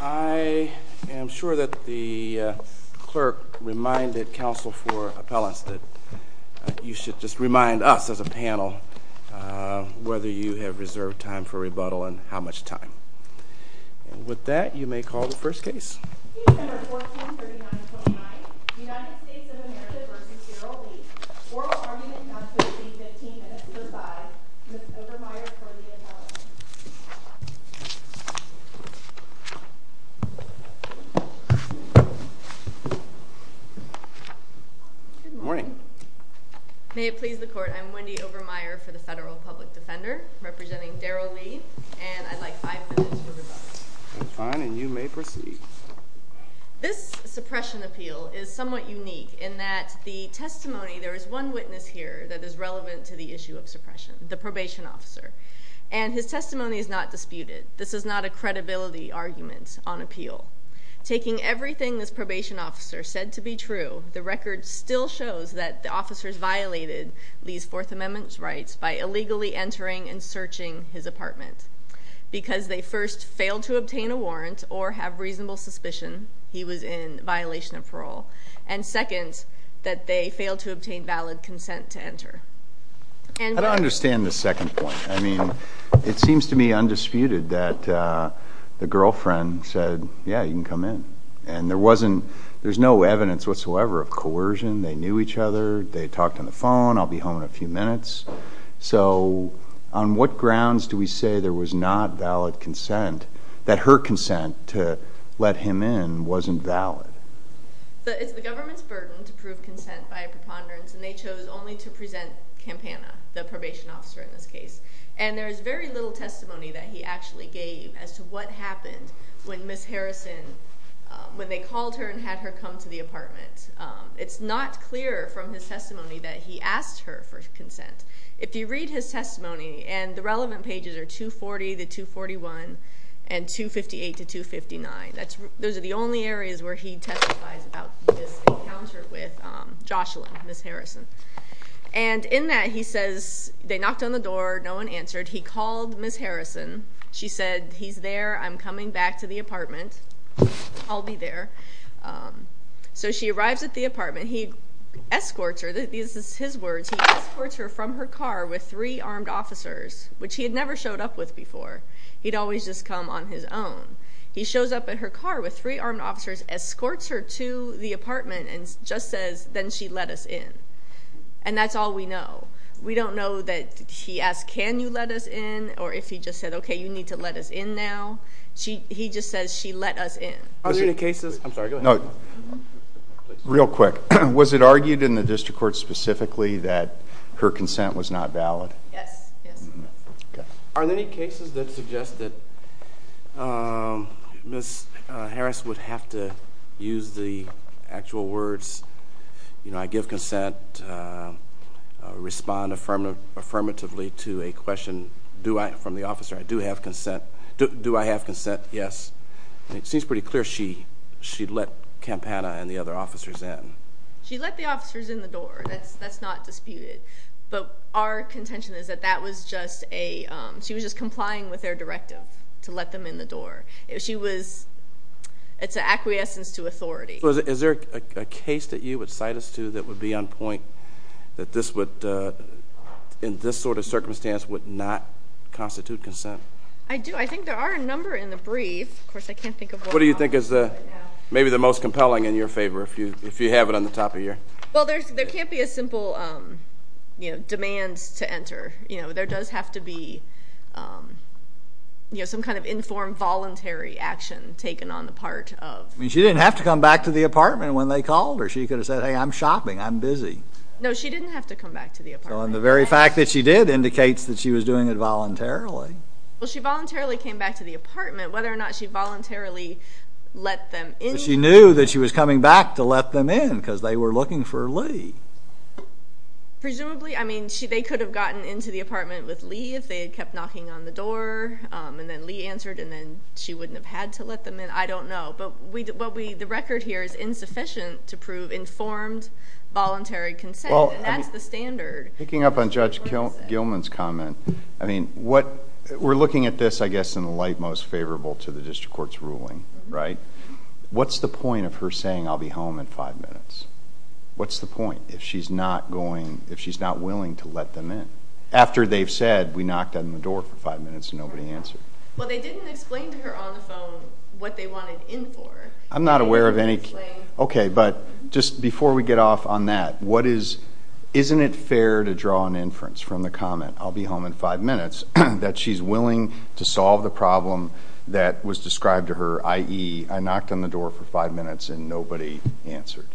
I am sure that the clerk reminded counsel for appellants that you should just remind us as a panel whether you have reserved time for rebuttal and how much time. And with that you may call the first case. Case number 1439.29 United States of America v. Darryl Lee. Oral argument not to receive 15 minutes to decide. Ms. Obermeyer for the appellant. Good morning. May it please the court. I'm Wendy Obermeyer for the Federal Public Defender representing Darryl Lee. And I'd like five minutes for rebuttal. Fine and you may proceed. This suppression appeal is somewhat unique in that the testimony, there is one witness here that is relevant to the issue of suppression. The probation officer. And his testimony is not disputed. This is not a credibility argument on appeal. Taking everything this probation officer said to be true, the record still shows that the officers violated Lee's Fourth Amendment rights by illegally entering and searching his apartment. Because they first failed to obtain a warrant or have reasonable suspicion he was in violation of parole. And second, that they failed to obtain valid consent to enter. I don't understand the second point. I mean, it seems to me undisputed that the girlfriend said, yeah, you can come in. And there wasn't, there's no evidence whatsoever of coercion. They knew each other. They talked on the phone. I'll be home in a few minutes. So, on what grounds do we say there was not valid consent, that her consent to let him in wasn't valid? It's the government's burden to prove consent by a preponderance, and they chose only to present Campana, the probation officer in this case. And there is very little testimony that he actually gave as to what happened when Ms. Harrison, when they called her and had her come to the apartment. It's not clear from his testimony that he asked her for consent. If you read his testimony, and the relevant pages are 240 to 241 and 258 to 259. Those are the only areas where he testifies about this encounter with Jocelyn, Ms. Harrison. And in that, he says, they knocked on the door. No one answered. He called Ms. Harrison. She said, he's there. I'm coming back to the apartment. I'll be there. So, she arrives at the apartment. He escorts her. These are his words. He escorts her from her car with three armed officers, which he had never showed up with before. He'd always just come on his own. He shows up in her car with three armed officers, escorts her to the apartment, and just says, then she let us in. And that's all we know. We don't know that he asked, can you let us in? Or if he just said, okay, you need to let us in now. He just says, she let us in. Are there any cases? I'm sorry, go ahead. Real quick. Was it argued in the district court specifically that her consent was not valid? Yes. Are there any cases that suggest that Ms. Harris would have to use the actual words, you know, I give consent, respond affirmatively to a question from the officer. I do have consent. Do I have consent? Yes. It seems pretty clear she let Campana and the other officers in. She let the officers in the door. That's not disputed. But our contention is that that was just a, she was just complying with their directive to let them in the door. She was, it's an acquiescence to authority. Is there a case that you would cite us to that would be on point that this would, in this sort of circumstance, would not constitute consent? I do. I think there are a number in the brief. Of course, I can't think of one right now. What do you think is maybe the most compelling in your favor, if you have it on the top of your? Well, there can't be a simple, you know, demand to enter. You know, there does have to be, you know, some kind of informed voluntary action taken on the part of. I mean, she didn't have to come back to the apartment when they called her. She could have said, hey, I'm shopping. I'm busy. No, she didn't have to come back to the apartment. The very fact that she did indicates that she was doing it voluntarily. Well, she voluntarily came back to the apartment. Whether or not she voluntarily let them in. She knew that she was coming back to let them in because they were looking for Lee. Presumably. I mean, they could have gotten into the apartment with Lee if they had kept knocking on the door, and then Lee answered, and then she wouldn't have had to let them in. I don't know. But the record here is insufficient to prove informed voluntary consent, and that's the standard. Picking up on Judge Gilman's comment, I mean, we're looking at this, I guess, in the light most favorable to the district court's ruling, right? What's the point of her saying, I'll be home in five minutes? What's the point if she's not going, if she's not willing to let them in? After they've said, we knocked on the door for five minutes and nobody answered. Well, they didn't explain to her on the phone what they wanted in for. I'm not aware of any. Okay, but just before we get off on that, what is, isn't it fair to draw an inference from the comment, I'll be home in five minutes, that she's willing to solve the problem that was described to her, i.e., I knocked on the door for five minutes and nobody answered?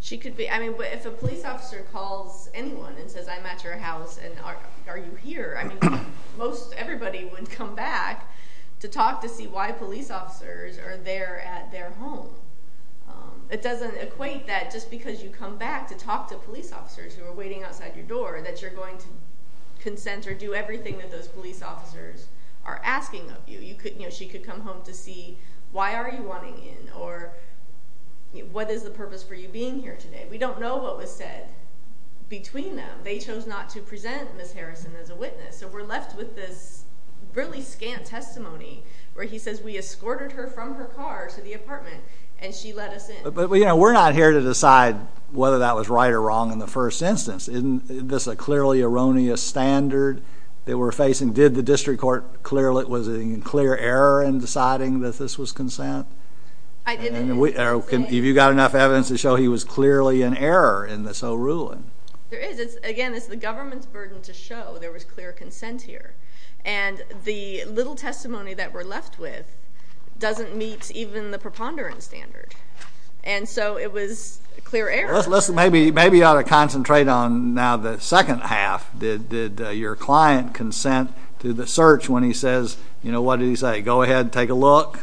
She could be. I mean, if a police officer calls anyone and says, I'm at your house, and are you here? I mean, most everybody would come back to talk to see why police officers are there at their home. It doesn't equate that just because you come back to talk to police officers who are waiting outside your door, that you're going to consent or do everything that those police officers are asking of you. You could, you know, she could come home to see, why are you wanting in? Or, what is the purpose for you being here today? We don't know what was said between them. So we're left with this really scant testimony where he says, we escorted her from her car to the apartment, and she let us in. But, you know, we're not here to decide whether that was right or wrong in the first instance. Isn't this a clearly erroneous standard that we're facing? Did the district court, was it a clear error in deciding that this was consent? I didn't. Have you got enough evidence to show he was clearly in error in this whole ruling? There is. Again, it's the government's burden to show there was clear consent here. And the little testimony that we're left with doesn't meet even the preponderance standard. And so it was clear error. Maybe you ought to concentrate on now the second half. Did your client consent to the search when he says, you know, what did he say, go ahead and take a look?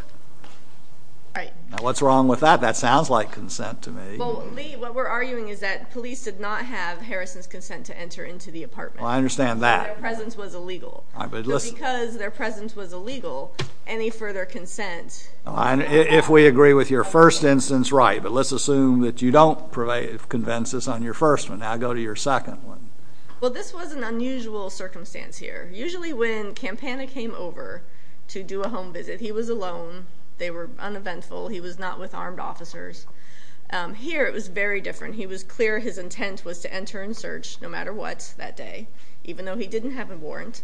Right. What's wrong with that? That sounds like consent to me. Well, Lee, what we're arguing is that police did not have Harrison's consent to enter into the apartment. I understand that. Their presence was illegal. Because their presence was illegal, any further consent. If we agree with your first instance, right. But let's assume that you don't convince us on your first one. Now go to your second one. Well, this was an unusual circumstance here. Usually when Campana came over to do a home visit, he was alone. They were uneventful. He was not with armed officers. Here it was very different. He was clear his intent was to enter and search, no matter what, that day. Even though he didn't have a warrant.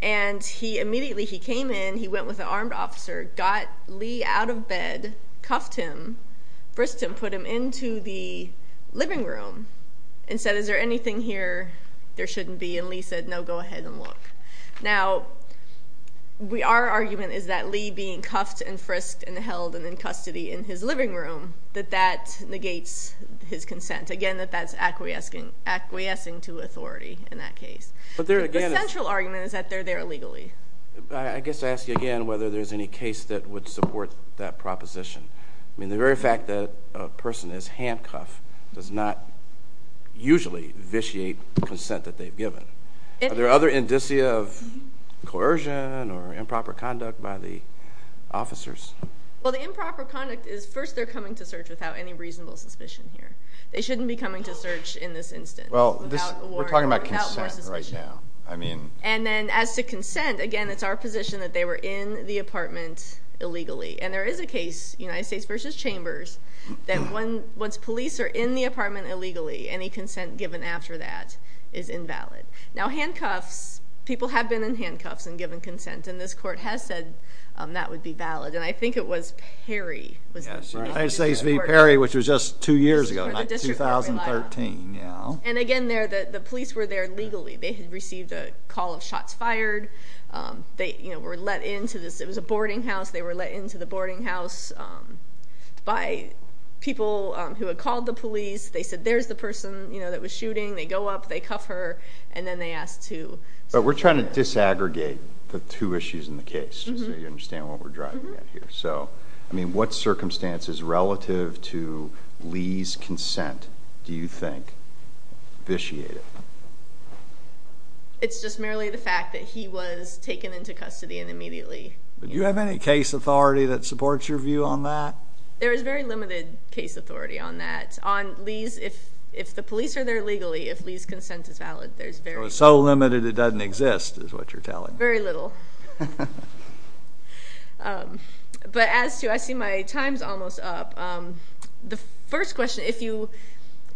And immediately he came in, he went with an armed officer, got Lee out of bed, cuffed him, frisked him, put him into the living room. And said, is there anything here there shouldn't be? And Lee said, no, go ahead and look. Now, our argument is that Lee being cuffed and frisked and held and in custody in his living room, that that negates his consent. Again, that that's acquiescing to authority in that case. The central argument is that they're there illegally. I guess I ask you again whether there's any case that would support that proposition. I mean, the very fact that a person is handcuffed does not usually vitiate consent that they've given. Are there other indicia of coercion or improper conduct by the officers? Well, the improper conduct is first they're coming to search without any reasonable suspicion here. They shouldn't be coming to search in this instance without a warrant. We're talking about consent right now. And then as to consent, again, it's our position that they were in the apartment illegally. And there is a case, United States v. Chambers, that once police are in the apartment illegally, any consent given after that is invalid. Now, handcuffs, people have been in handcuffs and given consent. And this court has said that would be valid. And I think it was Perry. Yes, United States v. Perry, which was just two years ago, not 2013. And again, the police were there legally. They had received a call of shots fired. They were let into this. It was a boarding house. They were let into the boarding house by people who had called the police. They said, there's the person that was shooting. They go up. They cuff her. And then they asked to. But we're trying to disaggregate the two issues in the case so you understand what we're driving at here. So, I mean, what circumstances relative to Lee's consent do you think vitiated? It's just merely the fact that he was taken into custody and immediately. Do you have any case authority that supports your view on that? There is very limited case authority on that. On Lee's, if the police are there legally, if Lee's consent is valid, there's very little. So limited it doesn't exist is what you're telling me. Very little. But as to, I see my time's almost up. The first question,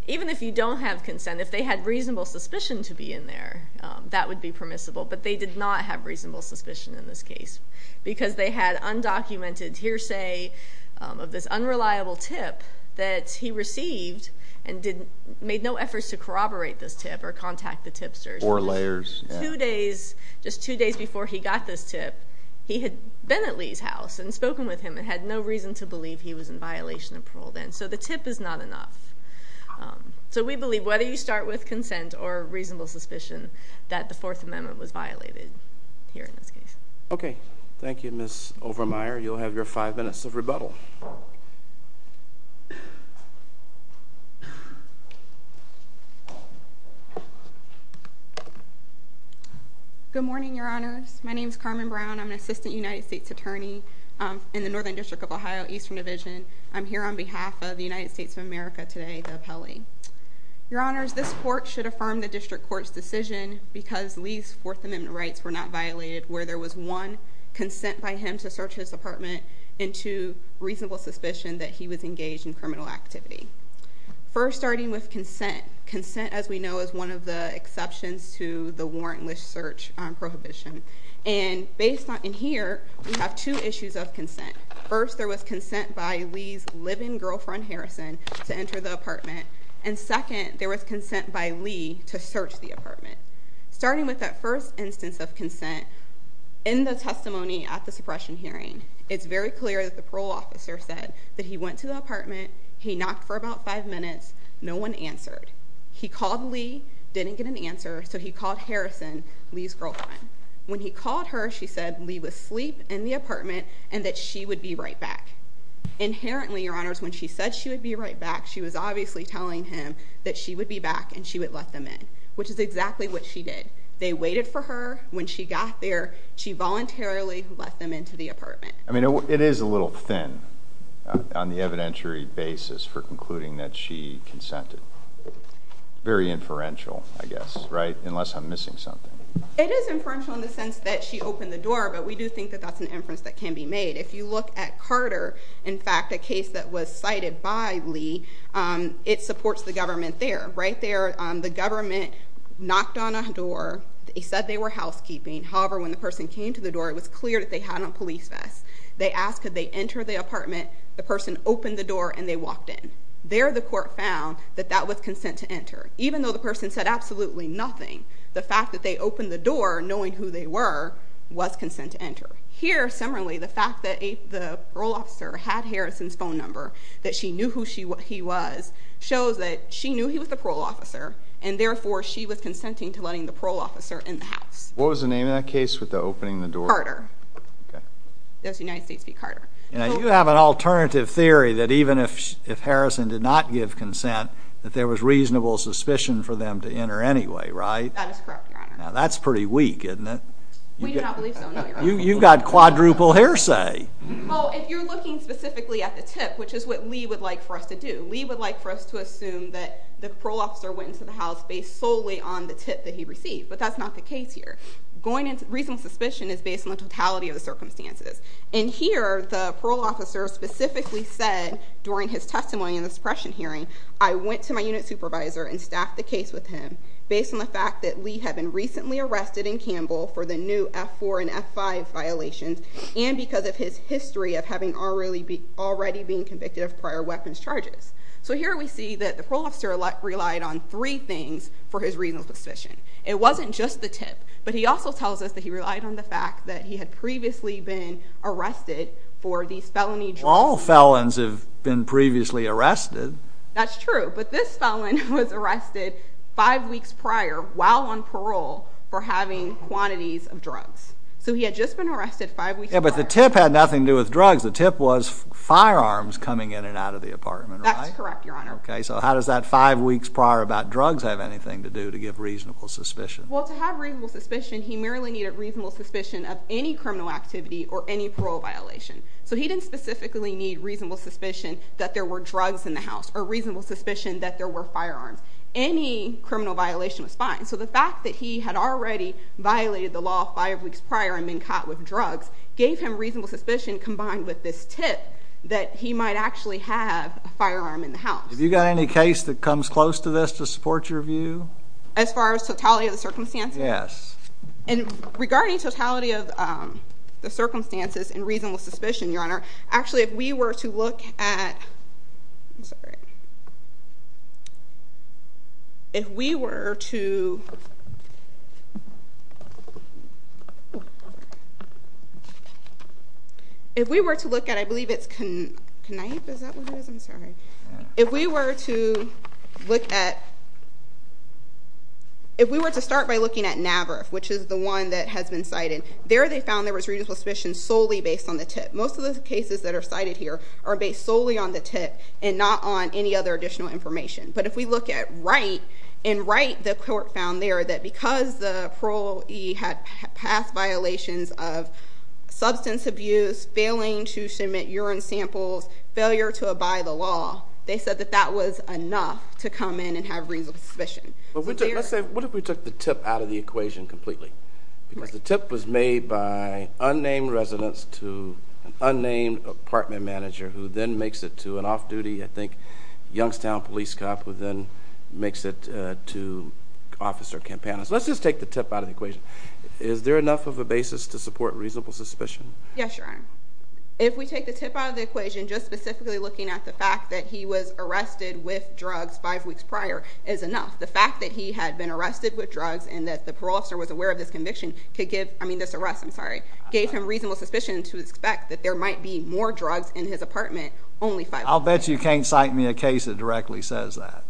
even if you don't have consent, if they had reasonable suspicion to be in there, that would be permissible. But they did not have reasonable suspicion in this case because they had undocumented hearsay of this unreliable tip that he received and made no efforts to corroborate this tip or contact the tipsters. Four layers. Two days, just two days before he got this tip, he had been at Lee's house and spoken with him and had no reason to believe he was in violation of parole then. So the tip is not enough. So we believe whether you start with consent or reasonable suspicion that the Fourth Amendment was violated here in this case. Okay. Thank you, Ms. Overmyer. You'll have your five minutes of rebuttal. Good morning, Your Honors. My name is Carmen Brown. I'm an Assistant United States Attorney in the Northern District of Ohio, Eastern Division. I'm here on behalf of the United States of America today, the appellee. Your Honors, this Court should affirm the District Court's decision because Lee's Fourth Amendment rights were not violated, where there was one, consent by him to search his apartment, and two, reasonable suspicion that he was engaged in criminal activity. First, starting with consent. Consent, as we know, is one of the exceptions to the warrantless search prohibition. And here, we have two issues of consent. First, there was consent by Lee's live-in girlfriend, Harrison, to enter the apartment. And second, there was consent by Lee to search the apartment. Starting with that first instance of consent, in the testimony at the suppression hearing, it's very clear that the parole officer said that he went to the apartment, he knocked for about five minutes, no one answered. He called Lee, didn't get an answer, so he called Harrison, Lee's girlfriend. When he called her, she said Lee was asleep in the apartment and that she would be right back. Inherently, Your Honors, when she said she would be right back, she was obviously telling him that she would be back and she would let them in, which is exactly what she did. They waited for her. When she got there, she voluntarily let them into the apartment. I mean, it is a little thin on the evidentiary basis for concluding that she consented. Very inferential, I guess, right? Unless I'm missing something. It is inferential in the sense that she opened the door, but we do think that that's an inference that can be made. If you look at Carter, in fact, a case that was cited by Lee, it supports the government there. Right there, the government knocked on a door. He said they were housekeeping. However, when the person came to the door, it was clear that they had on police vests. They asked could they enter the apartment. The person opened the door and they walked in. There, the court found that that was consent to enter. Even though the person said absolutely nothing, the fact that they opened the door, knowing who they were, was consent to enter. Here, similarly, the fact that the parole officer had Harrison's phone number, that she knew who he was, shows that she knew he was the parole officer, and therefore she was consenting to letting the parole officer in the house. What was the name of that case with the opening of the door? Carter. It was United States v. Carter. You have an alternative theory that even if Harrison did not give consent, that there was reasonable suspicion for them to enter anyway, right? That is correct, Your Honor. Now, that's pretty weak, isn't it? We do not believe so, no, Your Honor. You've got quadruple hearsay. Well, if you're looking specifically at the tip, which is what Lee would like for us to do, Lee would like for us to assume that the parole officer went into the house based solely on the tip that he received, but that's not the case here. Reasonable suspicion is based on the totality of the circumstances. And here, the parole officer specifically said, during his testimony in the suppression hearing, I went to my unit supervisor and staffed the case with him based on the fact that Lee had been recently arrested in Campbell for the new F-4 and F-5 violations, and because of his history of having already been convicted of prior weapons charges. So here we see that the parole officer relied on three things for his reasonable suspicion. It wasn't just the tip, but he also tells us that he relied on the fact that he had previously been arrested for these felony drugs. Well, all felons have been previously arrested. That's true, but this felon was arrested five weeks prior while on parole for having quantities of drugs. So he had just been arrested five weeks prior. Yeah, but the tip had nothing to do with drugs. The tip was firearms coming in and out of the apartment, right? That's correct, Your Honor. Okay, so how does that five weeks prior about drugs have anything to do to give reasonable suspicion? Well, to have reasonable suspicion, he merely needed reasonable suspicion of any criminal activity or any parole violation. So he didn't specifically need reasonable suspicion that there were drugs in the house or reasonable suspicion that there were firearms. Any criminal violation was fine. So the fact that he had already violated the law five weeks prior and been caught with drugs gave him reasonable suspicion combined with this tip that he might actually have a firearm in the house. Have you got any case that comes close to this to support your view? As far as totality of the circumstances? Yes. And regarding totality of the circumstances and reasonable suspicion, Your Honor, actually if we were to look at I'm sorry. If we were to If we were to look at, I believe it's Knife, is that what it is? I'm sorry. If we were to look at If we were to start by looking at Navaroff, which is the one that has been cited, there they found there was reasonable suspicion solely based on the tip. Most of the cases that are cited here are based solely on the tip and not on any other additional information. But if we look at Wright, in Wright, the court found there that because the parolee had passed violations of substance abuse, failing to submit urine samples, failure to abide the law, they said that that was enough to come in and have reasonable suspicion. Let's say, what if we took the tip out of the equation completely? Because the tip was made by unnamed residents to an unnamed apartment manager who then makes it to an off-duty, I think, Youngstown police cop who then makes it to Officer Campanas. Let's just take the tip out of the equation. Is there enough of a basis to support reasonable suspicion? Yes, Your Honor. If we take the tip out of the equation, just specifically looking at the fact that he was arrested with drugs five weeks prior is enough. The fact that he had been arrested with drugs and that the parole officer was aware of this arrest gave him reasonable suspicion to expect that there might be more drugs in his apartment only five weeks prior. I'll bet you can't cite me a case that directly says that.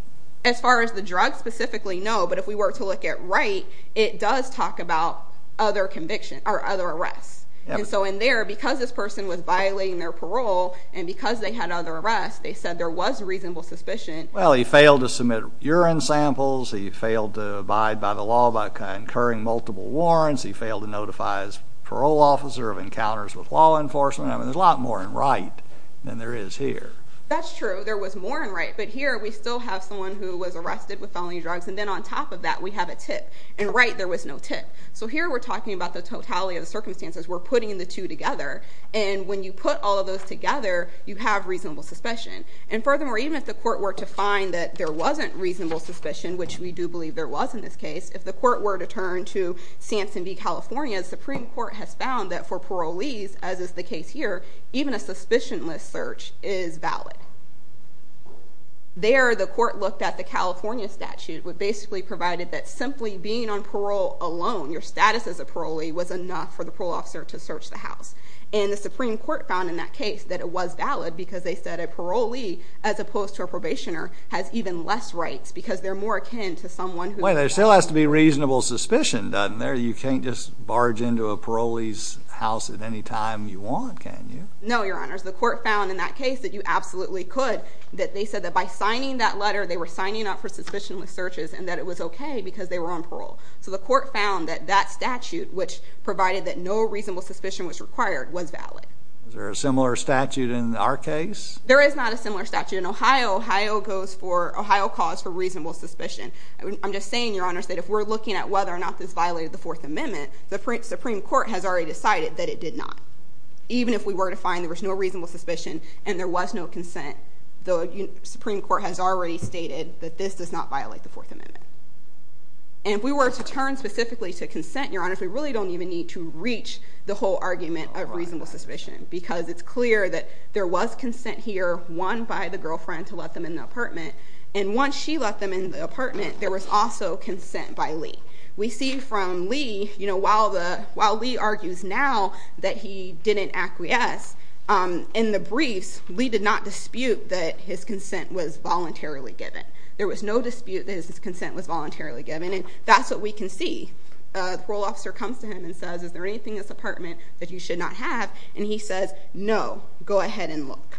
As far as the drugs specifically, no. But if we were to look at Wright, it does talk about other arrests. And so in there, because this person was violating their parole and because they had other arrests, they said there was reasonable suspicion. Well, he failed to submit urine samples. He failed to abide by the law by concurring multiple warrants. He failed to notify his parole officer of encounters with law enforcement. I mean, there's a lot more in Wright than there is here. That's true. There was more in Wright. But here we still have someone who was arrested with felony drugs. And then on top of that, we have a tip. In Wright, there was no tip. So here we're talking about the totality of the circumstances. We're putting the two together. And when you put all of those together, you have reasonable suspicion. And furthermore, even if the court were to find that there wasn't reasonable suspicion, which we do believe there was in this case, if the court were to turn to Sampson v. California, the Supreme Court has found that for parolees, as is the case here, even a suspicionless search is valid. There, the court looked at the California statute, which basically provided that simply being on parole alone, your status as a parolee, was enough for the parole officer to search the house. And the Supreme Court found in that case that it was valid because they said a parolee, as opposed to a probationer, has even less rights because they're more akin to someone who is on parole. Wait, there still has to be reasonable suspicion, doesn't there? You can't just barge into a parolee's house at any time you want, can you? No, Your Honors. The court found in that case that you absolutely could, that they said that by signing that letter, they were signing up for suspicionless searches and that it was okay because they were on parole. So the court found that that statute, which provided that no reasonable suspicion was required, was valid. Is there a similar statute in our case? There is not a similar statute in Ohio. Ohio calls for reasonable suspicion. I'm just saying, Your Honors, that if we're looking at whether or not this violated the Fourth Amendment, the Supreme Court has already decided that it did not. Even if we were to find there was no reasonable suspicion and there was no consent, the Supreme Court has already stated that this does not violate the Fourth Amendment. And if we were to turn specifically to consent, Your Honors, we really don't even need to reach the whole argument of reasonable suspicion because it's clear that there was consent here, one by the girlfriend to let them in the apartment, and once she let them in the apartment, there was also consent by Lee. We see from Lee, while Lee argues now that he didn't acquiesce, in the briefs, Lee did not dispute that his consent was voluntarily given. There was no dispute that his consent was voluntarily given, and that's what we can see. The parole officer comes to him and says, Is there anything in this apartment that you should not have? And he says, No, go ahead and look.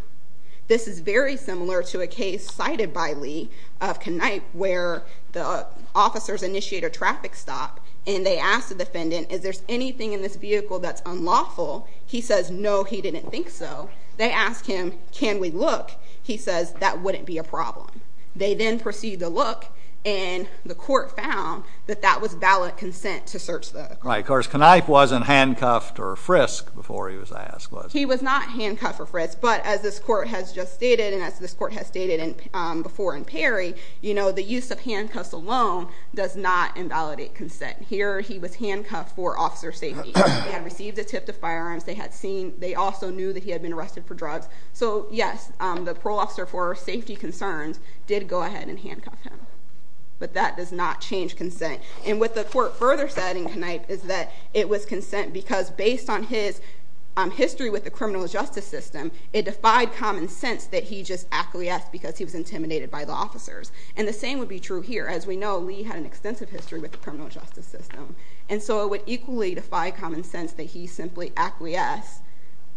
This is very similar to a case cited by Lee of Knype where the officers initiate a traffic stop and they ask the defendant, Is there anything in this vehicle that's unlawful? He says, No, he didn't think so. They ask him, Can we look? He says, That wouldn't be a problem. They then proceed to look, and the court found that that was valid consent to search the vehicle. Right, of course, Knype wasn't handcuffed or frisked before he was asked, was he? He was not handcuffed or frisked, but as this court has just stated and as this court has stated before in Perry, the use of handcuffs alone does not invalidate consent. Here he was handcuffed for officer safety. He had received a tip to firearms. They also knew that he had been arrested for drugs. So, yes, the parole officer for safety concerns did go ahead and handcuff him, but that does not change consent. And what the court further said in Knype is that it was consent because based on his history with the criminal justice system, it defied common sense that he just acquiesced because he was intimidated by the officers. And the same would be true here. As we know, Lee had an extensive history with the criminal justice system, and so it would equally defy common sense that he simply acquiesced.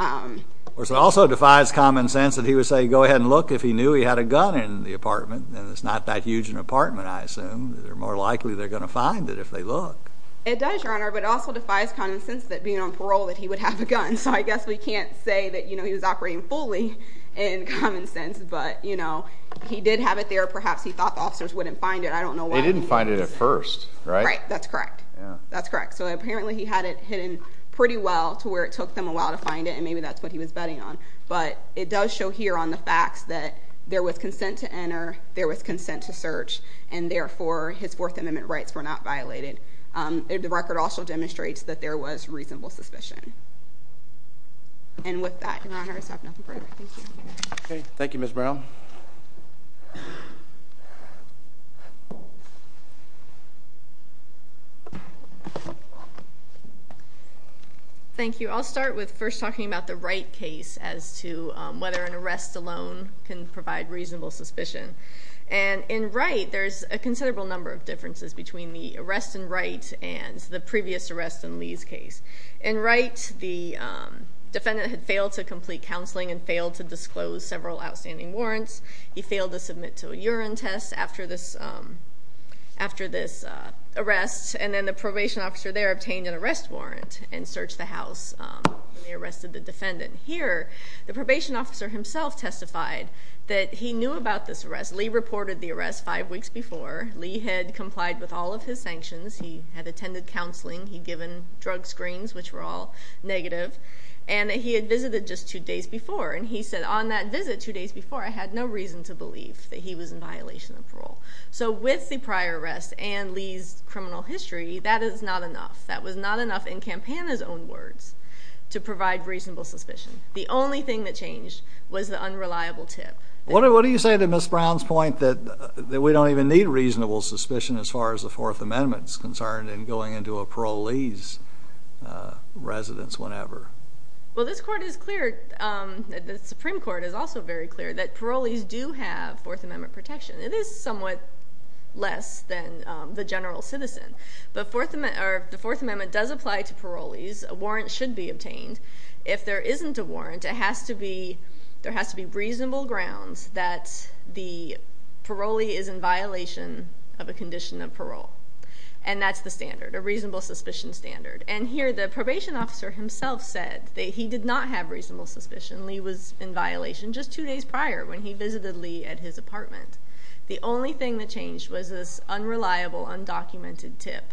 It also defies common sense that he would say, go ahead and look if he knew he had a gun in the apartment, and it's not that huge an apartment, I assume. More likely they're going to find it if they look. It does, Your Honor, but it also defies common sense that being on parole that he would have a gun. So I guess we can't say that he was operating fully in common sense, but he did have it there. Perhaps he thought the officers wouldn't find it. I don't know why. They didn't find it at first, right? Right. That's correct. That's correct. So apparently he had it hidden pretty well to where it took them a while to find it, and maybe that's what he was betting on. But it does show here on the facts that there was consent to enter, there was consent to search, and therefore his Fourth Amendment rights were not violated. The record also demonstrates that there was reasonable suspicion. And with that, Your Honor, I just have nothing further. Thank you. Okay. Thank you, Ms. Brown. Thank you. I'll start with first talking about the Wright case as to whether an arrest alone can provide reasonable suspicion. And in Wright, there's a considerable number of differences between the arrest in Wright and the previous arrest in Lee's case. In Wright, the defendant had failed to complete counseling and failed to disclose several outstanding warrants. He failed to submit to a urine test after this arrest, and then the probation officer there obtained an arrest warrant and searched the house when they arrested the defendant. Here, the probation officer himself testified that he knew about this arrest. Lee reported the arrest five weeks before. Lee had complied with all of his sanctions. He had attended counseling. He'd given drug screens, which were all negative. And he had visited just two days before, and he said, on that visit two days before, I had no reason to believe that he was in violation of parole. So with the prior arrests and Lee's criminal history, that is not enough. That was not enough, in Campana's own words, to provide reasonable suspicion. The only thing that changed was the unreliable tip. What do you say to Ms. Brown's point that we don't even need reasonable suspicion as far as the Fourth Amendment is concerned in going into a parolee's residence whenever? Well, this court is clear, the Supreme Court is also very clear, that parolees do have Fourth Amendment protection. It is somewhat less than the general citizen. But the Fourth Amendment does apply to parolees. A warrant should be obtained. If there isn't a warrant, there has to be reasonable grounds that the parolee is in violation of a condition of parole, and that's the standard, a reasonable suspicion standard. And here the probation officer himself said that he did not have reasonable suspicion. Lee was in violation just two days prior when he visited Lee at his apartment. The only thing that changed was this unreliable, undocumented tip,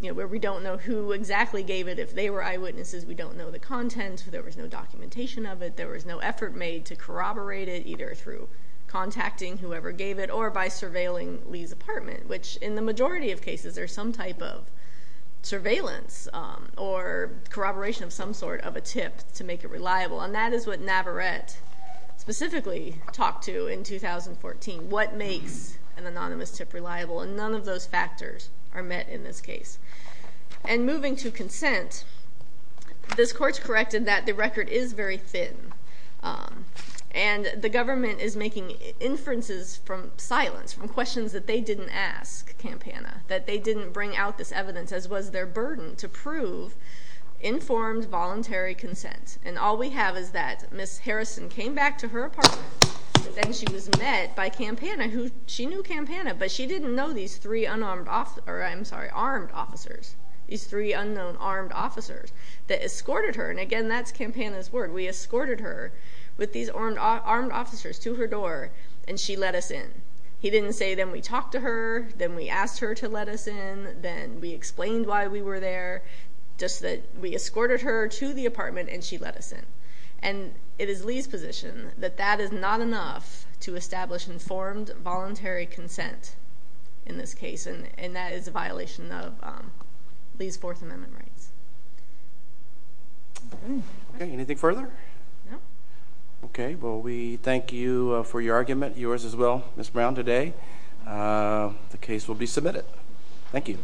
where we don't know who exactly gave it. If they were eyewitnesses, we don't know the content. There was no documentation of it. There was no effort made to corroborate it, either through contacting whoever gave it or by surveilling Lee's apartment, which in the majority of cases there's some type of surveillance or corroboration of some sort of a tip to make it reliable. And that is what Navarette specifically talked to in 2014, what makes an anonymous tip reliable. And none of those factors are met in this case. And moving to consent, this Court's corrected that the record is very thin, and the government is making inferences from silence, from questions that they didn't ask Campana, that they didn't bring out this evidence, as was their burden to prove informed voluntary consent. And all we have is that Ms. Harrison came back to her apartment, and then she was met by Campana, who she knew Campana, but she didn't know these three unarmed officers or, I'm sorry, armed officers, these three unknown armed officers that escorted her. And, again, that's Campana's word. We escorted her with these armed officers to her door, and she let us in. He didn't say then we talked to her, then we asked her to let us in, then we explained why we were there, just that we escorted her to the apartment and she let us in. And it is Lee's position that that is not enough to establish informed voluntary consent in this case, and that is a violation of Lee's Fourth Amendment rights. Okay, anything further? No. Okay, well, we thank you for your argument, yours as well, Ms. Brown, today. The case will be submitted. Thank you.